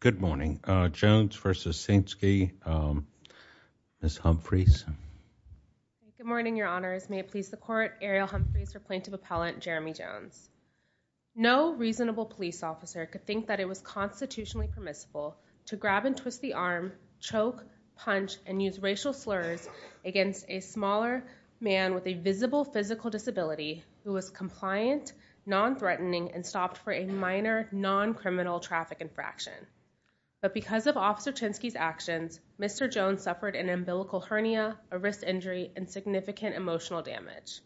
Good morning. Jones v. Ceinski, Ms. Humphreys Good morning, your honors. May it please the court, Ariel Humphreys for Plaintiff Appellant Jeremy Jones. No reasonable police officer could think that it was constitutionally permissible to grab and twist the arm, choke, punch, and use racial slurs against a smaller man with a visible physical disability who was compliant, non-threatening, and stopped for a minor, non-criminal traffic infraction. But because of Officer Ceinski's actions, Mr. Jones suffered an umbilical hernia, a wrist injury, and significant emotional damage.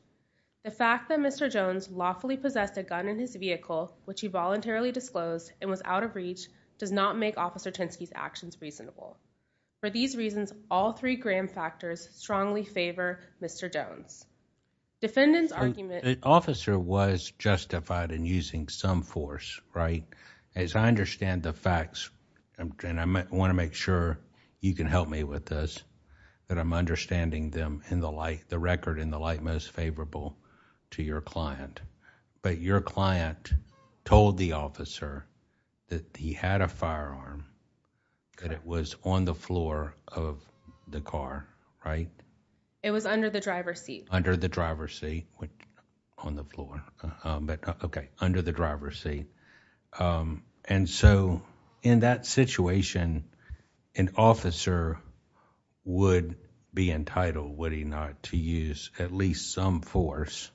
The fact that Mr. Jones lawfully possessed a gun in his vehicle, which he voluntarily disclosed and was out of reach, does not make Officer Ceinski's actions reasonable. For these reasons, all three Graham factors strongly favor Mr. Jones. Defendant's argument- The officer was justified in using some force, right? As I understand the facts, and I want to make sure you can help me with this, that I'm understanding them in the light, the record in the light most favorable to your client. But your client told the officer that he had a firearm, that it was on the floor of the car, right? It was under the driver's seat. Under the driver's seat, on the floor. Okay, would be entitled, would he not, to use at least some force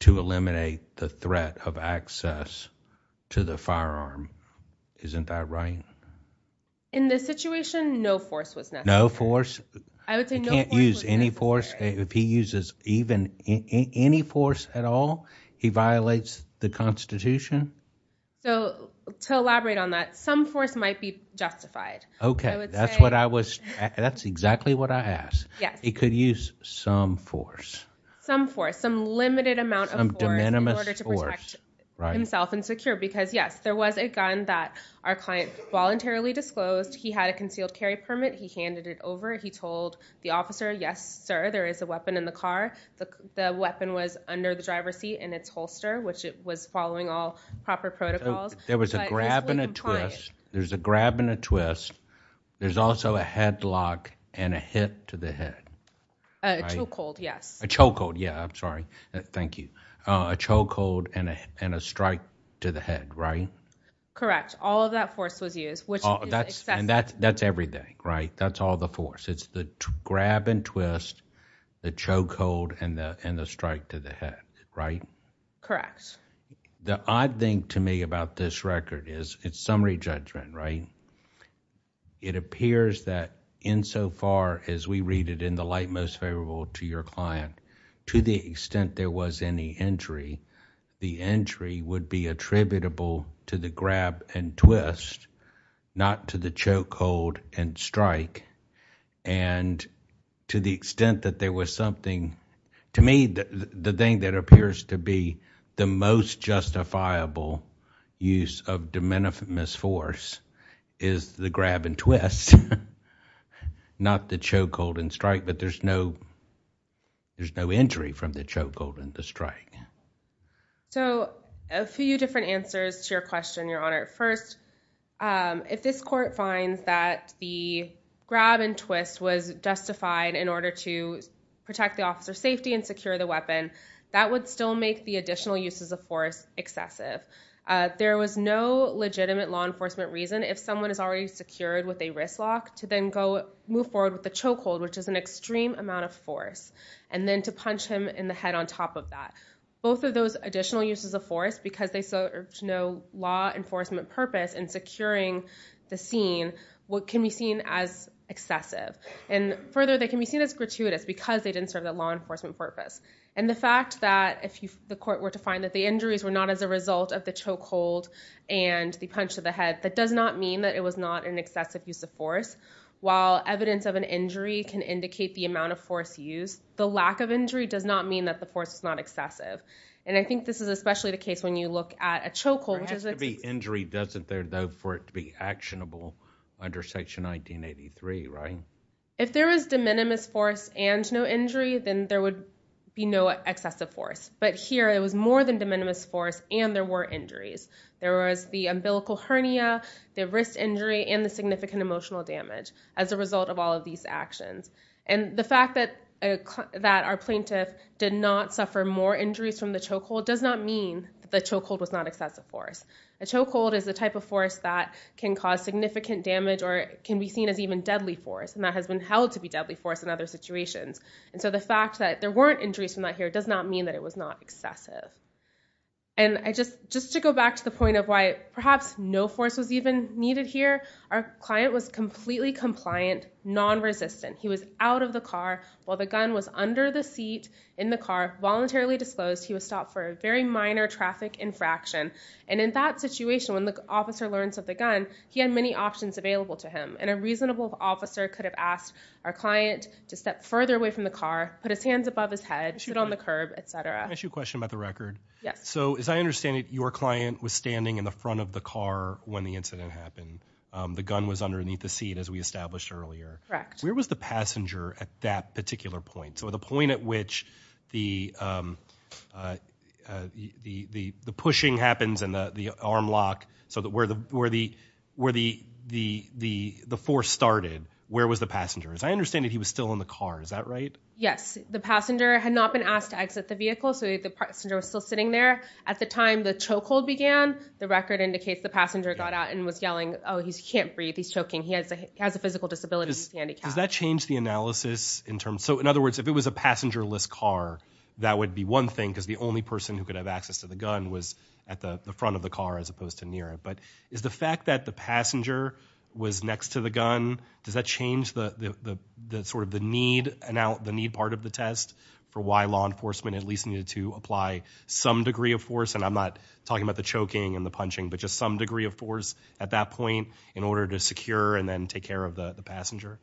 to eliminate the threat of access to the firearm? Isn't that right? In this situation, no force was necessary. No force? I would say no force was necessary. He can't use any force? If he uses even any force at all, he violates the Constitution? So, to elaborate on that, some force might be justified. Okay, that's what I was, that's exactly what I asked. He could use some force? Some force, some limited amount of force in order to protect himself and secure, because yes, there was a gun that our client voluntarily disclosed. He had a concealed carry permit. He handed it over. He told the officer, yes sir, there is a weapon in the car. The weapon was under the driver's seat in its holster, which it was following all proper protocols. There was a grab and a twist. There's a grab and a twist. There's also a headlock and a hit to the head. A chokehold, yes. A chokehold, yeah, I'm sorry. Thank you. A chokehold and a strike to the head, right? Correct. All of that force was used, which is excessive. And that's everything, right? That's all the force. It's the grab and twist, the chokehold, and the strike to the head, right? Correct. The odd thing to me about this record is, it's summary judgment, right? It appears that insofar as we read it in the light most favorable to your client, to the extent there was any injury, the injury would be attributable to the grab and twist, not to the chokehold and strike. And to the extent that there was something, to me, the thing that appears to be the most justifiable use of de minimis force is the grab and twist, not the chokehold and strike. But there's no injury from the chokehold and the strike. So a few different answers to your question, Your Honor. First, if this court finds that the grab and twist was justified in order to protect the officer's safety and secure the weapon, that would still make the additional uses of force excessive. There was no legitimate law enforcement reason, if someone is already secured with a wrist lock, to then move forward with the chokehold, which is an extreme amount of force, and then to punch him in the head on top of that. Both of those additional uses of force, because there's no law enforcement purpose in securing the scene, can be seen as excessive. And further, they can be seen as gratuitous because they didn't serve that law enforcement purpose. And the fact that if the court were to find that the injuries were not as a result of the chokehold and the punch to the head, that does not mean that it was not an excessive use of force. While evidence of an injury can indicate the amount of force used, the lack of injury does not mean that the force is not excessive. And I think this is especially the case when you look at a chokehold. There has to be injury, doesn't there, though, for it to be actionable under Section 1983, right? If there was de minimis force and no injury, then there would be no excessive force. But here, it was more than de minimis force, and there were injuries. There was the umbilical hernia, the wrist injury, and the significant emotional damage as a result of all of these actions. And the fact that our plaintiff did not suffer more injuries from the chokehold does not mean that the chokehold was not excessive force. A chokehold is a type of force that can cause significant damage or can be seen as even deadly force, and that has been held to be deadly force in other situations. And so the fact that there weren't injuries from that here does not mean that it was not excessive. And just to go back to the point of why perhaps no force was even needed here, our client was completely compliant, non-resistant. He was out of the car while the gun was under the seat in the car, voluntarily disclosed. He was stopped for a very minor traffic infraction. And in that situation, when the officer learns of the gun, he had many options available to him. And a reasonable officer could have asked our client to step further away from the car, put his hands above his head, sit on the curb, etc. Can I ask you a question about the record? Yes. So as I understand it, your client was standing in the front of the car when the incident happened. The gun was underneath the seat as we established earlier. Where was the passenger at that particular point? So the point at which the pushing happens and the arm lock, so that where the force started, where was the passenger? As I understand it, he was still in the car. Is that right? Yes. The passenger had not been asked to exit the vehicle, so the passenger was still sitting there. At the time the choke hold began, the record indicates the passenger got out and was yelling, oh, he can't breathe, he's choking, he has a physical disability, he's handicapped. Does that change the analysis? So in other words, if it was a passenger-less car, that would be one thing, because the only person who could have access to the gun was at the front of the car as opposed to near it. But is the fact that the passenger was next to the gun, does that change the need part of the test for why law enforcement at least needed to apply some degree of force? And I'm not talking about the choking and the punching, but just some degree of force at that point in order to secure and then take care of the passenger?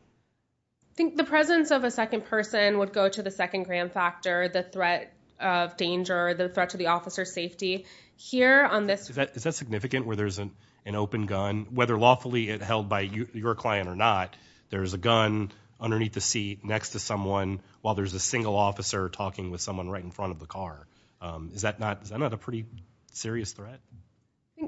I think the presence of a second person would go to the second gram factor, the threat of danger, the threat to the officer's safety. Is that significant where there's an open gun, whether lawfully held by your client or not, there's a gun underneath the seat next to someone while there's a single officer talking with someone right in front of the car. Is that not a pretty serious threat?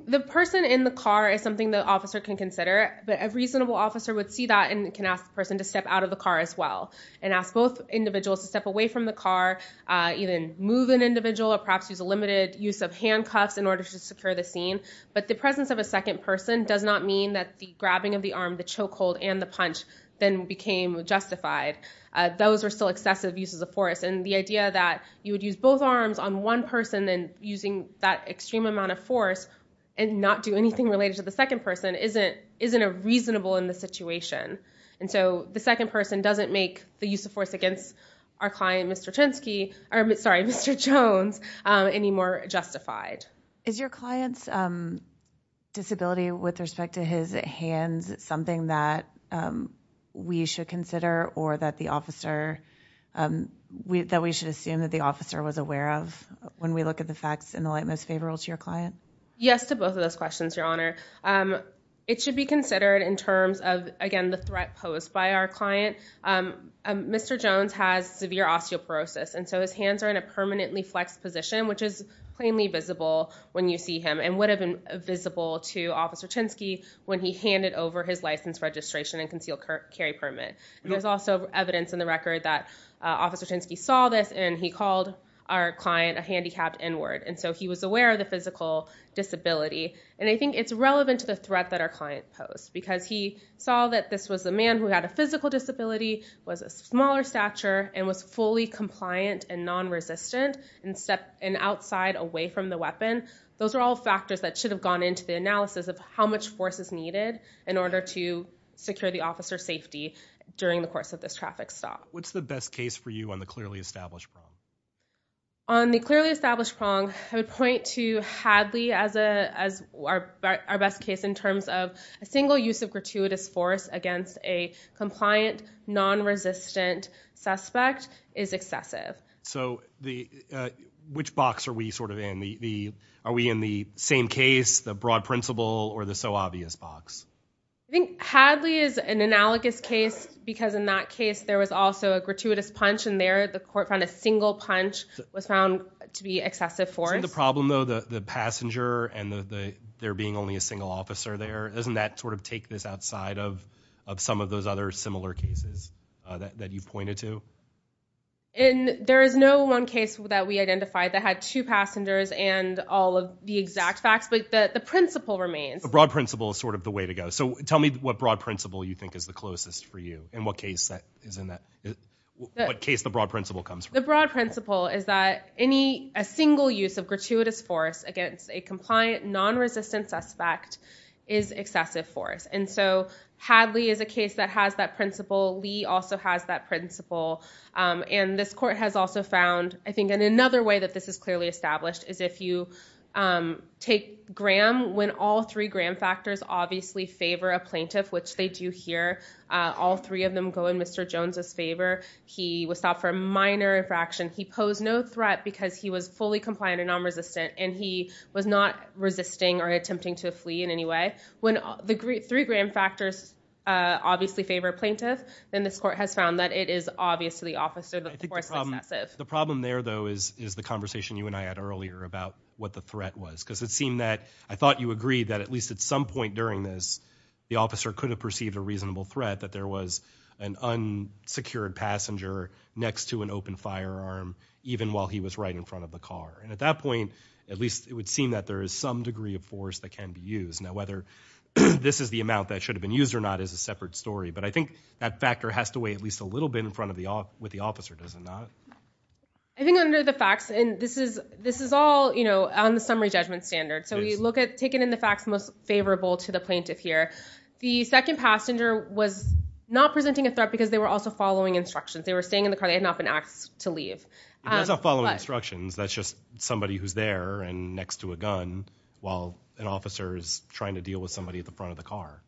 The person in the car is something the officer can consider, but a reasonable officer would see that and can ask the person to step out of the car as well and ask both individuals to step away from the car, even move an individual or perhaps use a limited use of handcuffs in order to secure the scene. But the presence of a second person does not mean that the grabbing of the arm, the choke hold, and the punch then became justified. Those were still excessive uses of force and the idea that you would use both arms on one person then using that extreme amount of force and not do anything related to the second person isn't reasonable in the situation. And so the second person doesn't make the use of force against our client, Mr. Jones, any more justified. Is your client's disability with respect to his hands something that we should consider or that we should assume that the officer was aware of when we look at the facts in the light most favorable to your client? Yes to both of those questions, Your Honor. It should be considered in terms of, again, the threat posed by our client. Mr. Jones has severe osteoporosis and so his hands are in a permanently flexed position, which is plainly visible when you see him and would have been visible to Officer Chinsky when he handed over his license registration and concealed carry permit. There's also evidence in the record that Officer Chinsky saw this and he called our client a handicapped N-word and so he was aware of the physical disability and I think it's relevant to the threat that our client posed because he saw that this was a man who had a physical disability, was a smaller stature, and was fully compliant and non-resistant and stepped in outside away from the weapon. Those are all factors that should have gone into the analysis of how much force is needed in order to secure the officer's safety during the course of this traffic stop. What's the best case for you on the clearly established prong? On the clearly established prong, I would point to Hadley as our best case in terms of a single use of gratuitous force against a compliant non-resistant suspect is excessive. So which box are we sort of are we in the same case, the broad principle, or the so obvious box? I think Hadley is an analogous case because in that case there was also a gratuitous punch and there the court found a single punch was found to be excessive force. The problem though the passenger and the there being only a single officer there, doesn't that sort of take this outside of some of those other similar cases that you've pointed to? There is no one case that we identified that had two passengers and all of the exact facts, but the principle remains. The broad principle is sort of the way to go. So tell me what broad principle you think is the closest for you and what case that is in that what case the broad principle comes from? The broad principle is that any a single use of gratuitous force against a compliant non-resistant suspect is excessive force. And so Hadley is a broad principle. Lee also has that principle. And this court has also found I think in another way that this is clearly established is if you take Graham when all three Graham factors obviously favor a plaintiff, which they do here, all three of them go in Mr. Jones's favor. He was stopped for a minor infraction. He posed no threat because he was fully compliant and non-resistant and he was not resisting or attempting to flee in any way. When the three Graham factors obviously favor plaintiff, then this court has found that it is obvious to the officer that the force is excessive. The problem there though is the conversation you and I had earlier about what the threat was because it seemed that I thought you agreed that at least at some point during this the officer could have perceived a reasonable threat that there was an unsecured passenger next to an open firearm even while he was right in front of the car. And at that point at least it would seem that there is some degree of force that can be now whether this is the amount that should have been used or not is a separate story. But I think that factor has to weigh at least a little bit in front of the off with the officer, does it not? I think under the facts and this is this is all you know on the summary judgment standard. So we look at taking in the facts most favorable to the plaintiff here. The second passenger was not presenting a threat because they were also following instructions. They were staying in the car. They had not been asked to leave. It was not following instructions. That's just somebody who's there and next to a gun while an officer is trying to deal with somebody at the front of the car.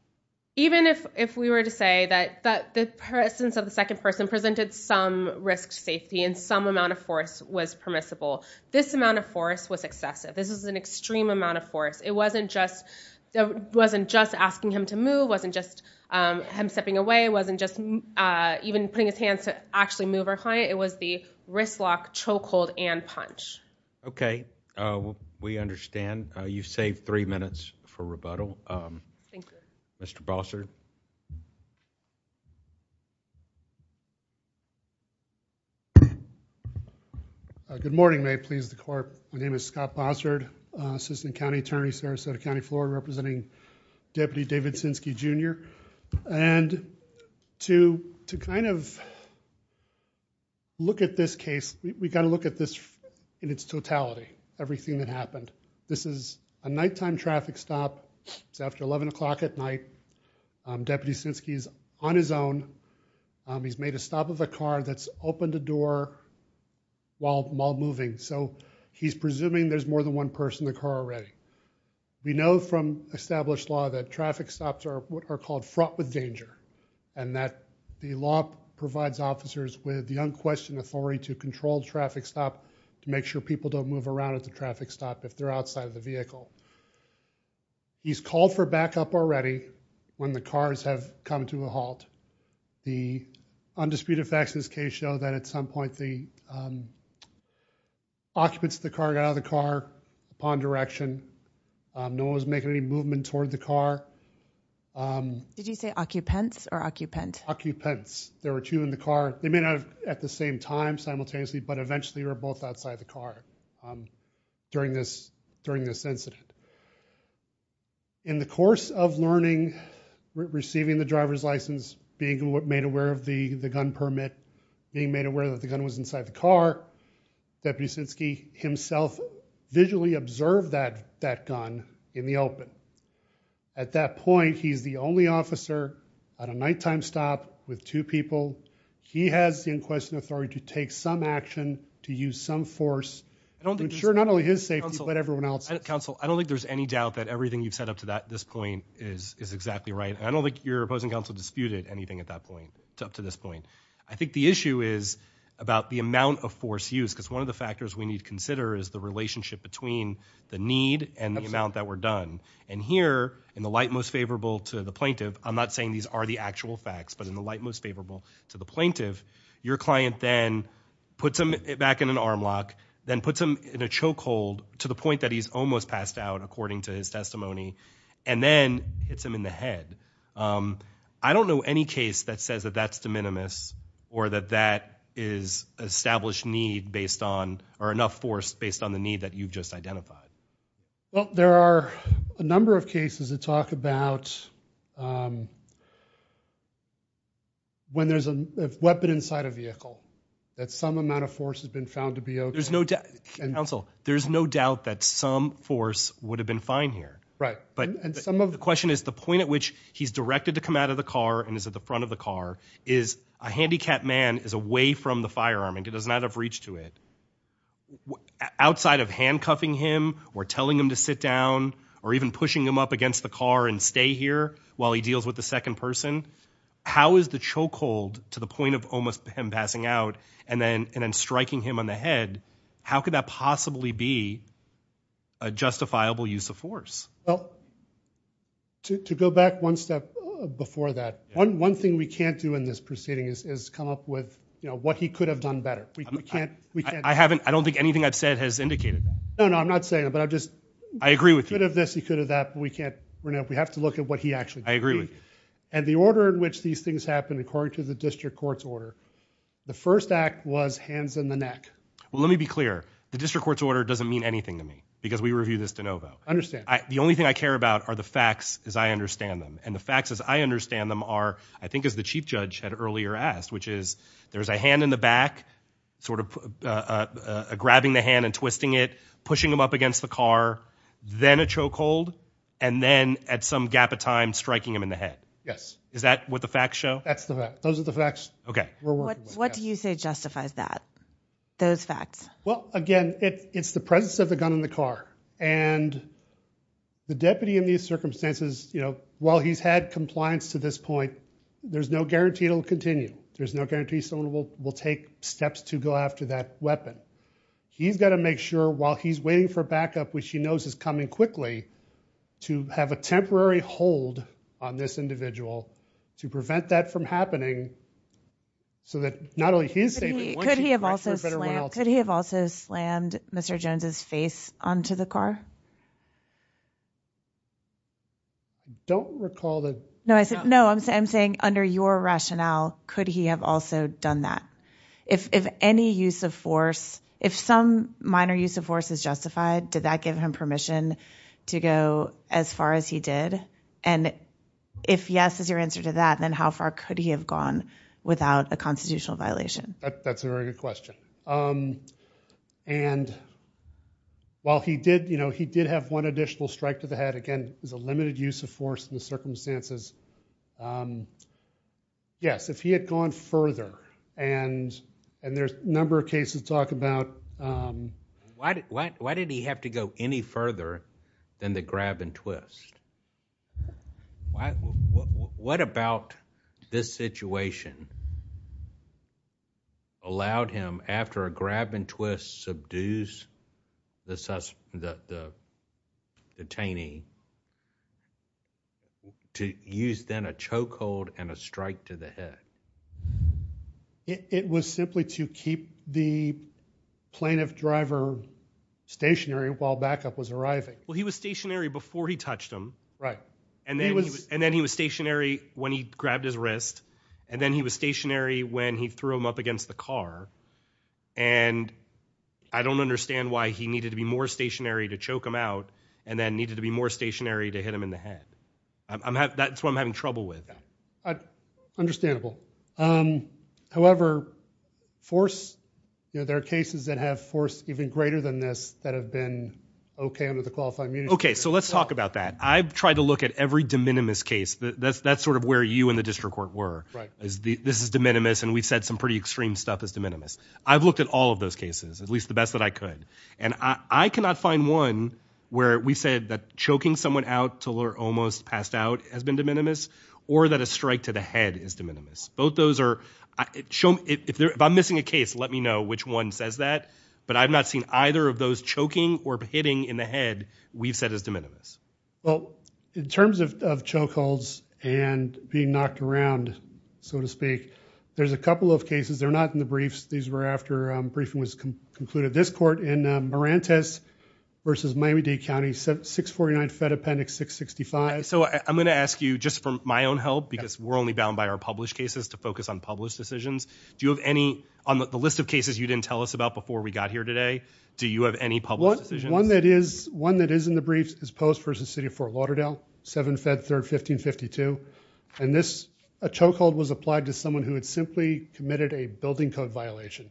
Even if if we were to say that that the presence of the second person presented some risk safety and some amount of force was permissible, this amount of force was excessive. This is an extreme amount of force. It wasn't just that wasn't just asking him to move, wasn't just him stepping away, wasn't just even putting his hands to actually move or client. It was the wristlock, chokehold, and punch. Okay, we understand. You saved three minutes for rebuttal. Mr. Bossert. Good morning. May it please the court. My name is Scott Bossert, Assistant County Attorney, Sarasota County, Florida, representing Deputy David Sinskey, Jr. And to to kind of look at this case, we've got to look at this in its totality, everything that happened. This is a nighttime traffic stop. It's after 11 o'clock at night. Deputy Sinskey's on his own. He's made a stop of a car that's opened a door while while moving. So he's presuming there's more than one person in the car already. We know from established law that traffic stops are what are called fraught with danger and that the law provides officers with the unquestioned authority to control traffic stop to make sure people don't move around at the traffic stop if they're outside of the vehicle. He's called for backup already when the cars have come to a halt. The undisputed facts in this case show that at some point the occupants of the car got out of the car upon direction. No one was making any movement toward the car. Did you say occupants or occupant? Occupants. There were two in the car. They may not have at the same time simultaneously, but eventually were both outside the car during this during this incident. In the course of learning, receiving the driver's license, being made aware of the the gun permit, being made aware that the gun was inside the car, Deputy Sinskey himself visually observed that that gun in the open. At that point, he's the only officer at a nighttime stop with two people. He has the unquestioned authority to take some action to use some force to ensure not only his safety but everyone else's. Counsel, I don't think there's any doubt that everything you've said up to that this point is is exactly right. I don't think your opposing counsel disputed anything at that point up to this point. I think the issue is about the amount of force used because one of the factors we need to consider is the relationship between the need and the amount that were done. And here in the light most favorable to the plaintiff, I'm not saying these are the actual facts, but in the light most favorable to the plaintiff, your client then puts him back in an arm lock, then puts him in a chokehold to the point that he's almost passed out according to his testimony, and then hits him in the head. I don't know any case that says that that's de minimis or that that is established need based on or enough force based on the need that you've just identified. Well, there are a number of cases that talk about when there's a weapon inside a vehicle that some amount of force has been found to be okay. There's no doubt, counsel, there's no doubt that some force would have been fine here. But the question is the point at which he's directed to come out of the car and is at the front of the car is a handicapped man is away from the firearm and does not have reach to it. Outside of handcuffing him or telling him to sit down or even pushing him up against the car and stay here while he deals with the second person, how is the chokehold to the point of almost him passing out and then striking him on the head, how could that possibly be a justifiable use of force? Well, to go back one step before that, one thing we can't do in this proceeding is come up with, you know, what he could have done better. We can't, we can't. I haven't, I don't think anything I've said has indicated that. No, no, I'm not saying it, but I just. I agree with you. He could have this, he could have that, but we can't, we have to look at what he actually did. I agree with you. And the order in which these things happen, according to the district court's order, the first act was hands in the neck. Well, let me be clear. The district court's order doesn't mean anything to me because we review this de novo. Understand. The only thing I care about are the facts as I understand them. And the facts as I understand them are, I think as the chief judge had earlier asked, which is, there's a hand in the back, sort of grabbing the hand and twisting it, pushing him up against the car, then a chokehold, and then at some gap of time, striking him in the head. Yes. Is that what the facts show? That's the fact. Those are the facts. Okay. We're working on that. What do you say justifies that, those facts? Well, again, it's the presence of the gun in the car. And the deputy in these circumstances, you know, while he's had compliance to this point, there's no guarantee it'll continue. There's no guarantee someone will take steps to go after that weapon. He's got to make sure while he's waiting for backup, which he knows is coming quickly, to have a temporary hold on this individual to prevent that from happening. So that not only his safety, could he have also slammed Mr. Jones's face onto the car? Don't recall that. No, I'm saying under your rationale, could he have also done that? If any use of force, if some minor use of force is justified, did that give him permission to go as far as he did? And if yes is your answer to that, then how far could he have gone without a constitutional violation? That's a very good question. And while he did, you know, he did have one additional strike to the head. Again, there's a limited use of force in the circumstances. Yes, if he had gone further, and there's a number of cases talk about. Why did he have to go any further than the grab and twist? What about this situation? Allowed him after a grab and twist subdues the detainee to use then a choke hold and a strike to the head. It was simply to keep the plaintiff driver stationary while backup was arriving. Well, he was stationary before he touched him. Right. And then he was stationary when he grabbed his wrist. And then he was stationary when he threw him up against the car. And I don't understand why he needed to be more stationary to choke him out and then needed to be more stationary to hit him in the head. That's what I'm having trouble with. Understandable. However, force, you know, there are cases that have force even greater than this that have been okay under the qualified immunity. Okay, so let's talk about that. I've tried to look at every de minimis case. That's sort of where you and the district court were. This is de minimis and we've said some pretty extreme stuff as de minimis. I've looked at all of those cases, at least the best that I could. And I cannot find one where we said that choking someone out till they're almost passed out has been de minimis or that a strike to the head is de minimis. Both those are, if I'm missing a case, let me know which one says that. But I've not seen either of those choking or hitting in the head we've said as de minimis. Well, in terms of chokeholds and being knocked around, so to speak, there's a couple of cases. They're not in the briefs. These were after briefing was concluded. This court in Marentes versus Miami-Dade County, 649 Fed Appendix 665. So I'm going to ask you just for my own help, because we're only bound by our published cases to focus on published decisions. Do you have any on the list of cases you didn't tell us about before we got here today? Do you have any public decisions? One that is in the briefs is Post versus City of Fort Lauderdale, 7 Feb 3rd, 1552. And a chokehold was applied to someone who had simply committed a building code violation.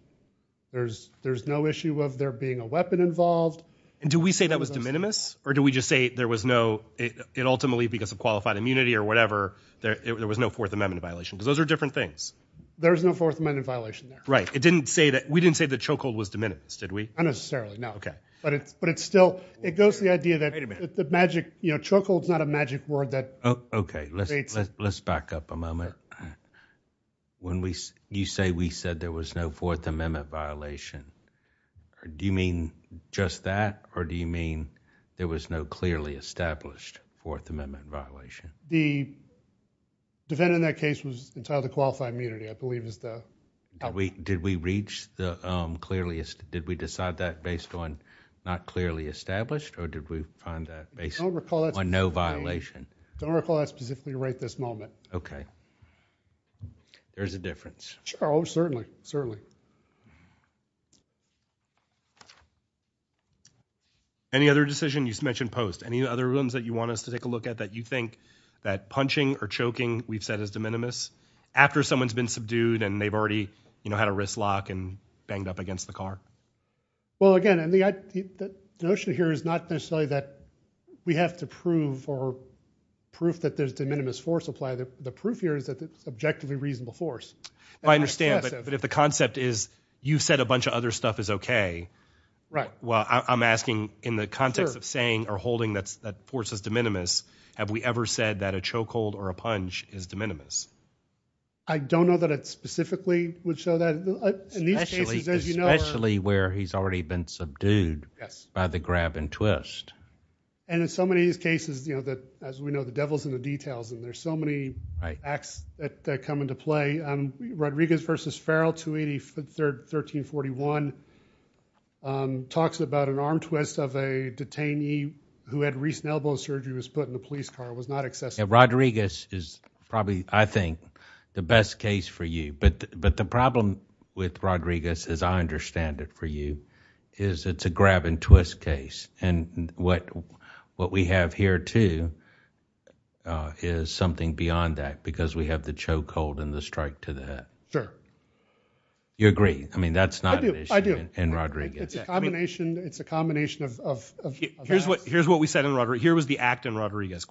There's no issue of there being a weapon involved. And do we say that was de minimis? Or do we just say there was no, it ultimately, because of qualified immunity or whatever, there was no Fourth Amendment violation? Because those are different things. There's no Fourth Amendment violation there. Right. It didn't say that. We didn't say the chokehold was de minimis, did we? Unnecessarily, no. OK. But it's still, it goes to the idea that the magic, you know, chokehold's not a magic word that creates... OK, let's back up a moment. When you say we said there was no Fourth Amendment violation, do you mean just that? Or do you mean there was no clearly established Fourth Amendment violation? The defendant in that case was entitled to qualified immunity, I believe is the... Did we reach the clearly... Did we decide that based on not clearly established? Or did we find that based on no violation? Don't recall that specifically right this moment. OK. There's a difference. Sure, oh, certainly, certainly. Any other decision? You mentioned post. Any other ones that you want us to take a look at that you think that punching or choking we've said is de minimis? After someone's been subdued and they've already, you know, had a wrist lock and banged up against the car? Well, again, and the notion here is not necessarily that we have to prove or proof that there's de minimis force applied. The proof here is that it's objectively reasonable force. I understand, but if the concept is you said a bunch of other stuff is OK... Right. Well, I'm asking in the context of saying or holding that force is de minimis, have we ever said that a chokehold or a punch is de minimis? I don't know that it specifically would show that. In these cases, as you know... Especially where he's already been subdued by the grab and twist. And in so many of these cases, you know, that, as we know, the devil's in the details, and there's so many acts that come into play. Rodriguez versus Farrell, 283, 1341, talks about an arm twist of a detainee who had recent elbow surgery, was put in a police car, was not accessible. Rodriguez is probably, I think, the best case for you. But the problem with Rodriguez, as I understand it for you, is it's a grab and twist case. And what we have here too is something beyond that because we have the chokehold and the strike to the head. Sure. You agree? I mean, that's not an issue in Rodriguez. It's a combination. It's a combination of... Here's what we said in... Here was the act in Rodriguez.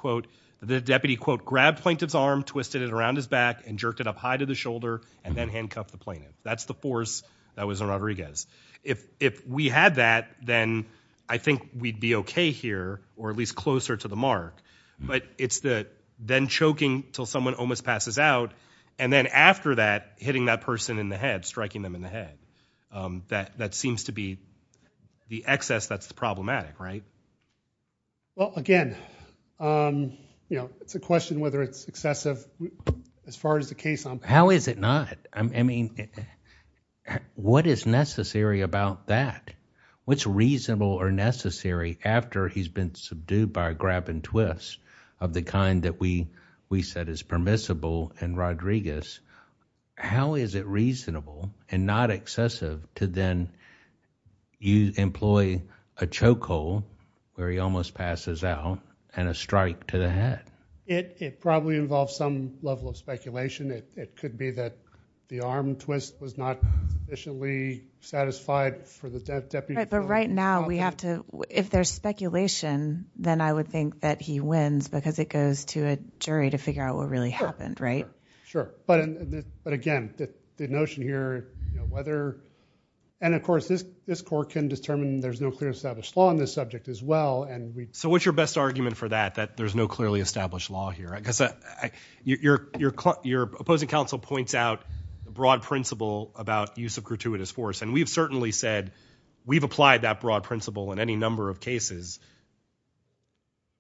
The deputy, quote, grabbed plaintiff's arm, twisted it around his back, and jerked it up high to the shoulder, and then handcuffed the plaintiff. That's the force that was in Rodriguez. If we had that, then I think we'd be okay here, or at least closer to the mark. But it's the then choking until someone almost passes out, and then after that, hitting that person in the head, striking them in the head. That seems to be the excess that's problematic, right? Well, again, it's a question whether it's excessive as far as the case on... How is it not? What is necessary about that? What's reasonable or necessary after he's been subdued by a grab and twist of the kind that we said is permissible in Rodriguez? How is it reasonable and not excessive to then you employ a chokehold where he almost passes out, and a strike to the head? It probably involves some level of speculation. It could be that the arm twist was not sufficiently satisfied for the deputy. But right now, we have to... If there's speculation, then I would think that he wins because it goes to a jury to figure out what really happened, right? Sure. But again, the notion here, whether... Of course, this court can determine there's no clear established law on this subject as well, and we... So what's your best argument for that, that there's no clearly established law here? Because your opposing counsel points out a broad principle about use of gratuitous force, and we've certainly said we've applied that broad principle in any number of cases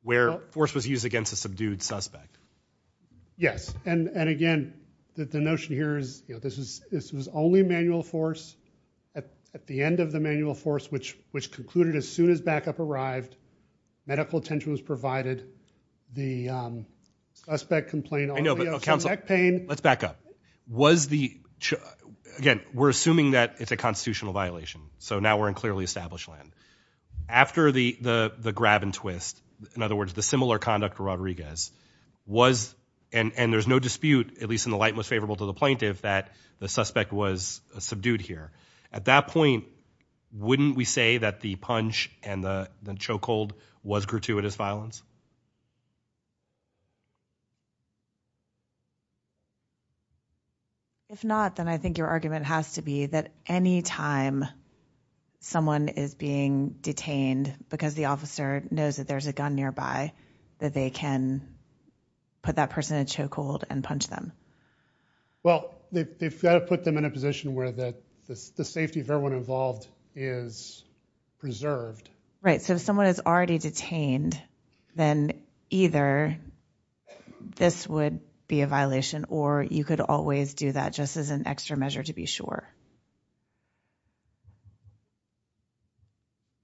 where force was used against a subdued suspect. Yes, and again, the notion here is this was only manual force at the end of the manual force, which concluded as soon as backup arrived, medical attention was provided, the suspect complained... I know, but counsel, let's back up. Again, we're assuming that it's a constitutional violation, so now we're in clearly established land. After the grab and twist, in other words, the similar conduct to Rodriguez was... And there's no dispute, at least in the light most favorable to the plaintiff, that the suspect was subdued here. At that point, wouldn't we say that the punch and the chokehold was gratuitous violence? If not, then I think your argument has to be that any time someone is being detained because the officer knows that there's a gun nearby, that they can put that person in a chokehold and punch them. Well, they've got to put them in a position where the safety of everyone involved is preserved. Right, so if someone is already detained, then either this would be a violation or you could always do that just as an extra measure to be sure.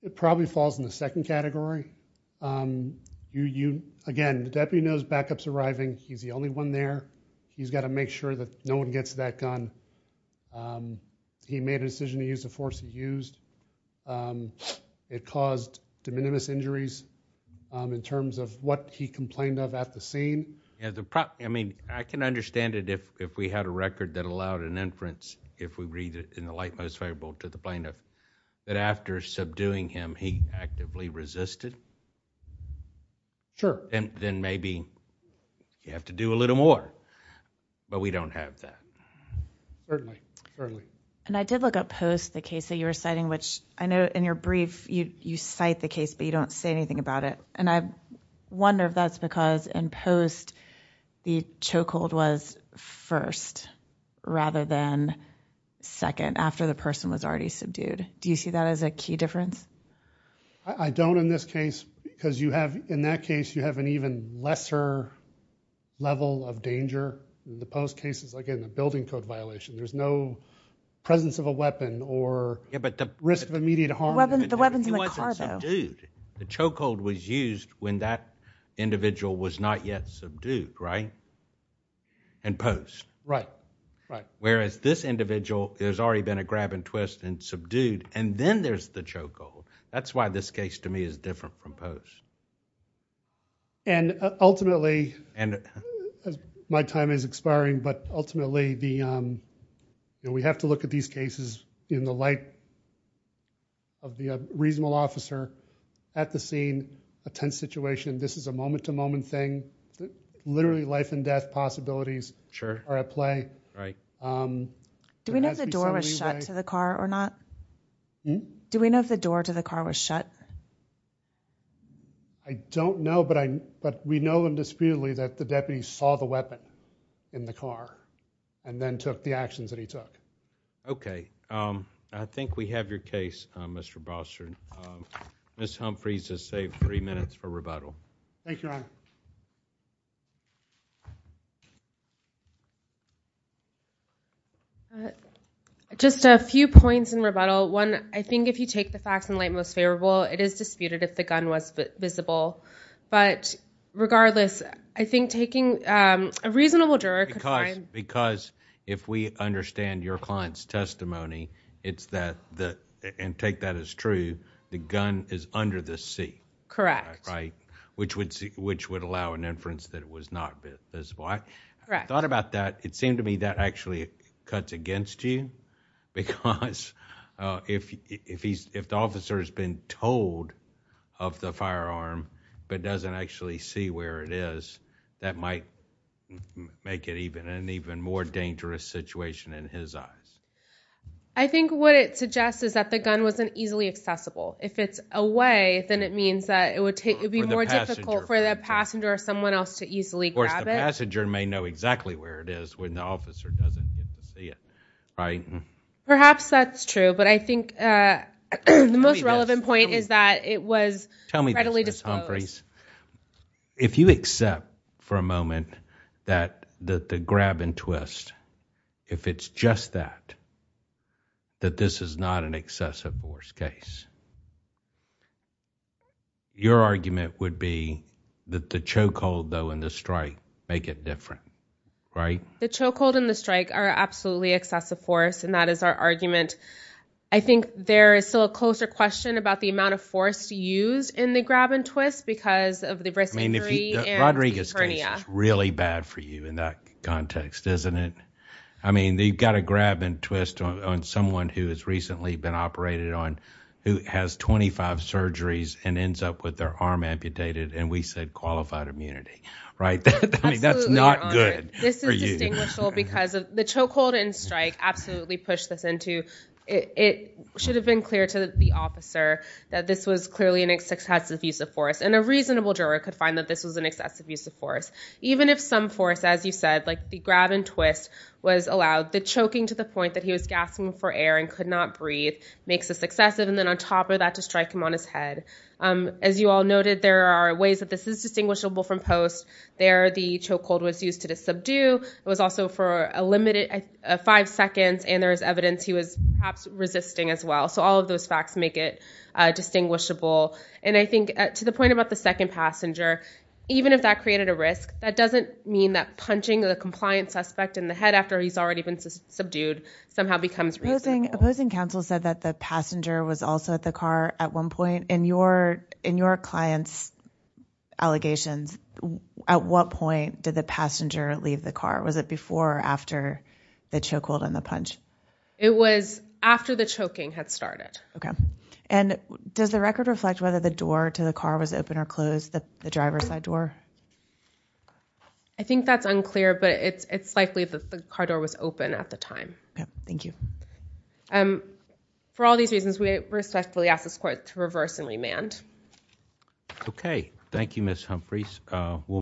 It probably falls in the second category. Again, the deputy knows backup's arriving. He's the only one there. He's got to make sure that no one gets that gun. He made a decision to use the force he used. It caused de minimis injuries in terms of what he complained of at the scene. I can understand it if we had a record that allowed an inference, if we read it in the light most favorable to the plaintiff, that after subduing him, he actively resisted. Sure. Then maybe you have to do a little more. We don't have that. And I did look up post the case that you were citing, which I know in your brief, you cite the case, but you don't say anything about it. And I wonder if that's because in post the chokehold was first rather than second after the person was already subdued. Do you see that as a key difference? I don't in this case, because you have in that case, you have an even lesser level of danger. The post case is, again, a building code violation. There's no presence of a weapon or... Yeah, but the...... risk of immediate harm... The weapon's in the car, though. He wasn't subdued. The chokehold was used when that individual was not yet subdued, right? In post. Right, right. Whereas this individual, there's already been a grab and twist and subdued, and then there's the chokehold. That's why this case to me is different from post. And ultimately, my time is expiring, but ultimately, we have to look at these cases in the light of the reasonable officer at the scene, a tense situation. This is a moment-to-moment thing. Literally life and death possibilities are at play. Sure, right. Do we know if the door was shut to the car or not? Do we know if the door to the car was shut? I don't know, but we know indisputably that the deputy saw the weapon in the car and then took the actions that he took. Okay. I think we have your case, Mr. Bostrom. Ms. Humphreys has saved three minutes for rebuttal. Thank you, Your Honor. Just a few points in rebuttal. I think if you take the facts in the light most favorable, it is disputed if the gun was visible. But regardless, I think taking a reasonable juror could find- Because if we understand your client's testimony, it's that, and take that as true, the gun is under the seat. Correct. Which would allow an inference that it was not visible. I thought about that. It seemed to me that actually cuts against you because if the officer has been told of the firearm but doesn't actually see where it is, that might make it an even more dangerous situation in his eyes. I think what it suggests is that the gun wasn't easily accessible. If it's away, then it means that it would be more difficult for the passenger or someone else to easily grab it. Of course, the passenger may know exactly where it is when the officer doesn't get to see it. Perhaps that's true. But I think the most relevant point is that it was readily disposed. If you accept for a moment that the grab and twist, if it's just that, that this is not an excessive force case, your argument would be that the choke hold though and the strike make it different. The choke hold and the strike are absolutely excessive force and that is our argument. I think there is still a closer question about the amount of force used in the grab and twist because of the risk of injury and tachycardia. I mean, Rodriguez case is really bad for you in that context, isn't it? I mean, they've got a grab and twist on someone who has recently been operated on who has 25 surgeries and ends up with their arm amputated and we said qualified immunity, right? I mean, that's not good. This is distinguishable because of the choke hold and strike, absolutely push this into. It should have been clear to the officer that this was clearly an excessive use of force and a reasonable juror could find that this was an excessive use of force. Even if some force, as you said, like the grab and twist was allowed, the choking to the point that he was gasping for air and could not breathe makes a successive and then on top of that to strike him on his head. As you all noted, there are ways that this is distinguishable from post. There, the choke hold was used to subdue. It was also for a limited five seconds and there is evidence he was perhaps resisting as well. So all of those facts make it distinguishable. And I think to the point about the second passenger, even if that created a risk, that doesn't mean that punching the compliance suspect in the head after he's already been subdued somehow becomes reasonable. Opposing counsel said that the passenger was also at the car at one point in your client's allegations. At what point did the passenger leave the car? Was it before or after the choke hold and the punch? It was after the choking had started. OK, and does the record reflect whether the door to the car was open or closed, the driver's side door? I think that's unclear, but it's likely that the car door was open at the time. Yeah, thank you. And for all these reasons, we respectfully ask this court to reverse and remand. OK, thank you, Ms. Humphreys.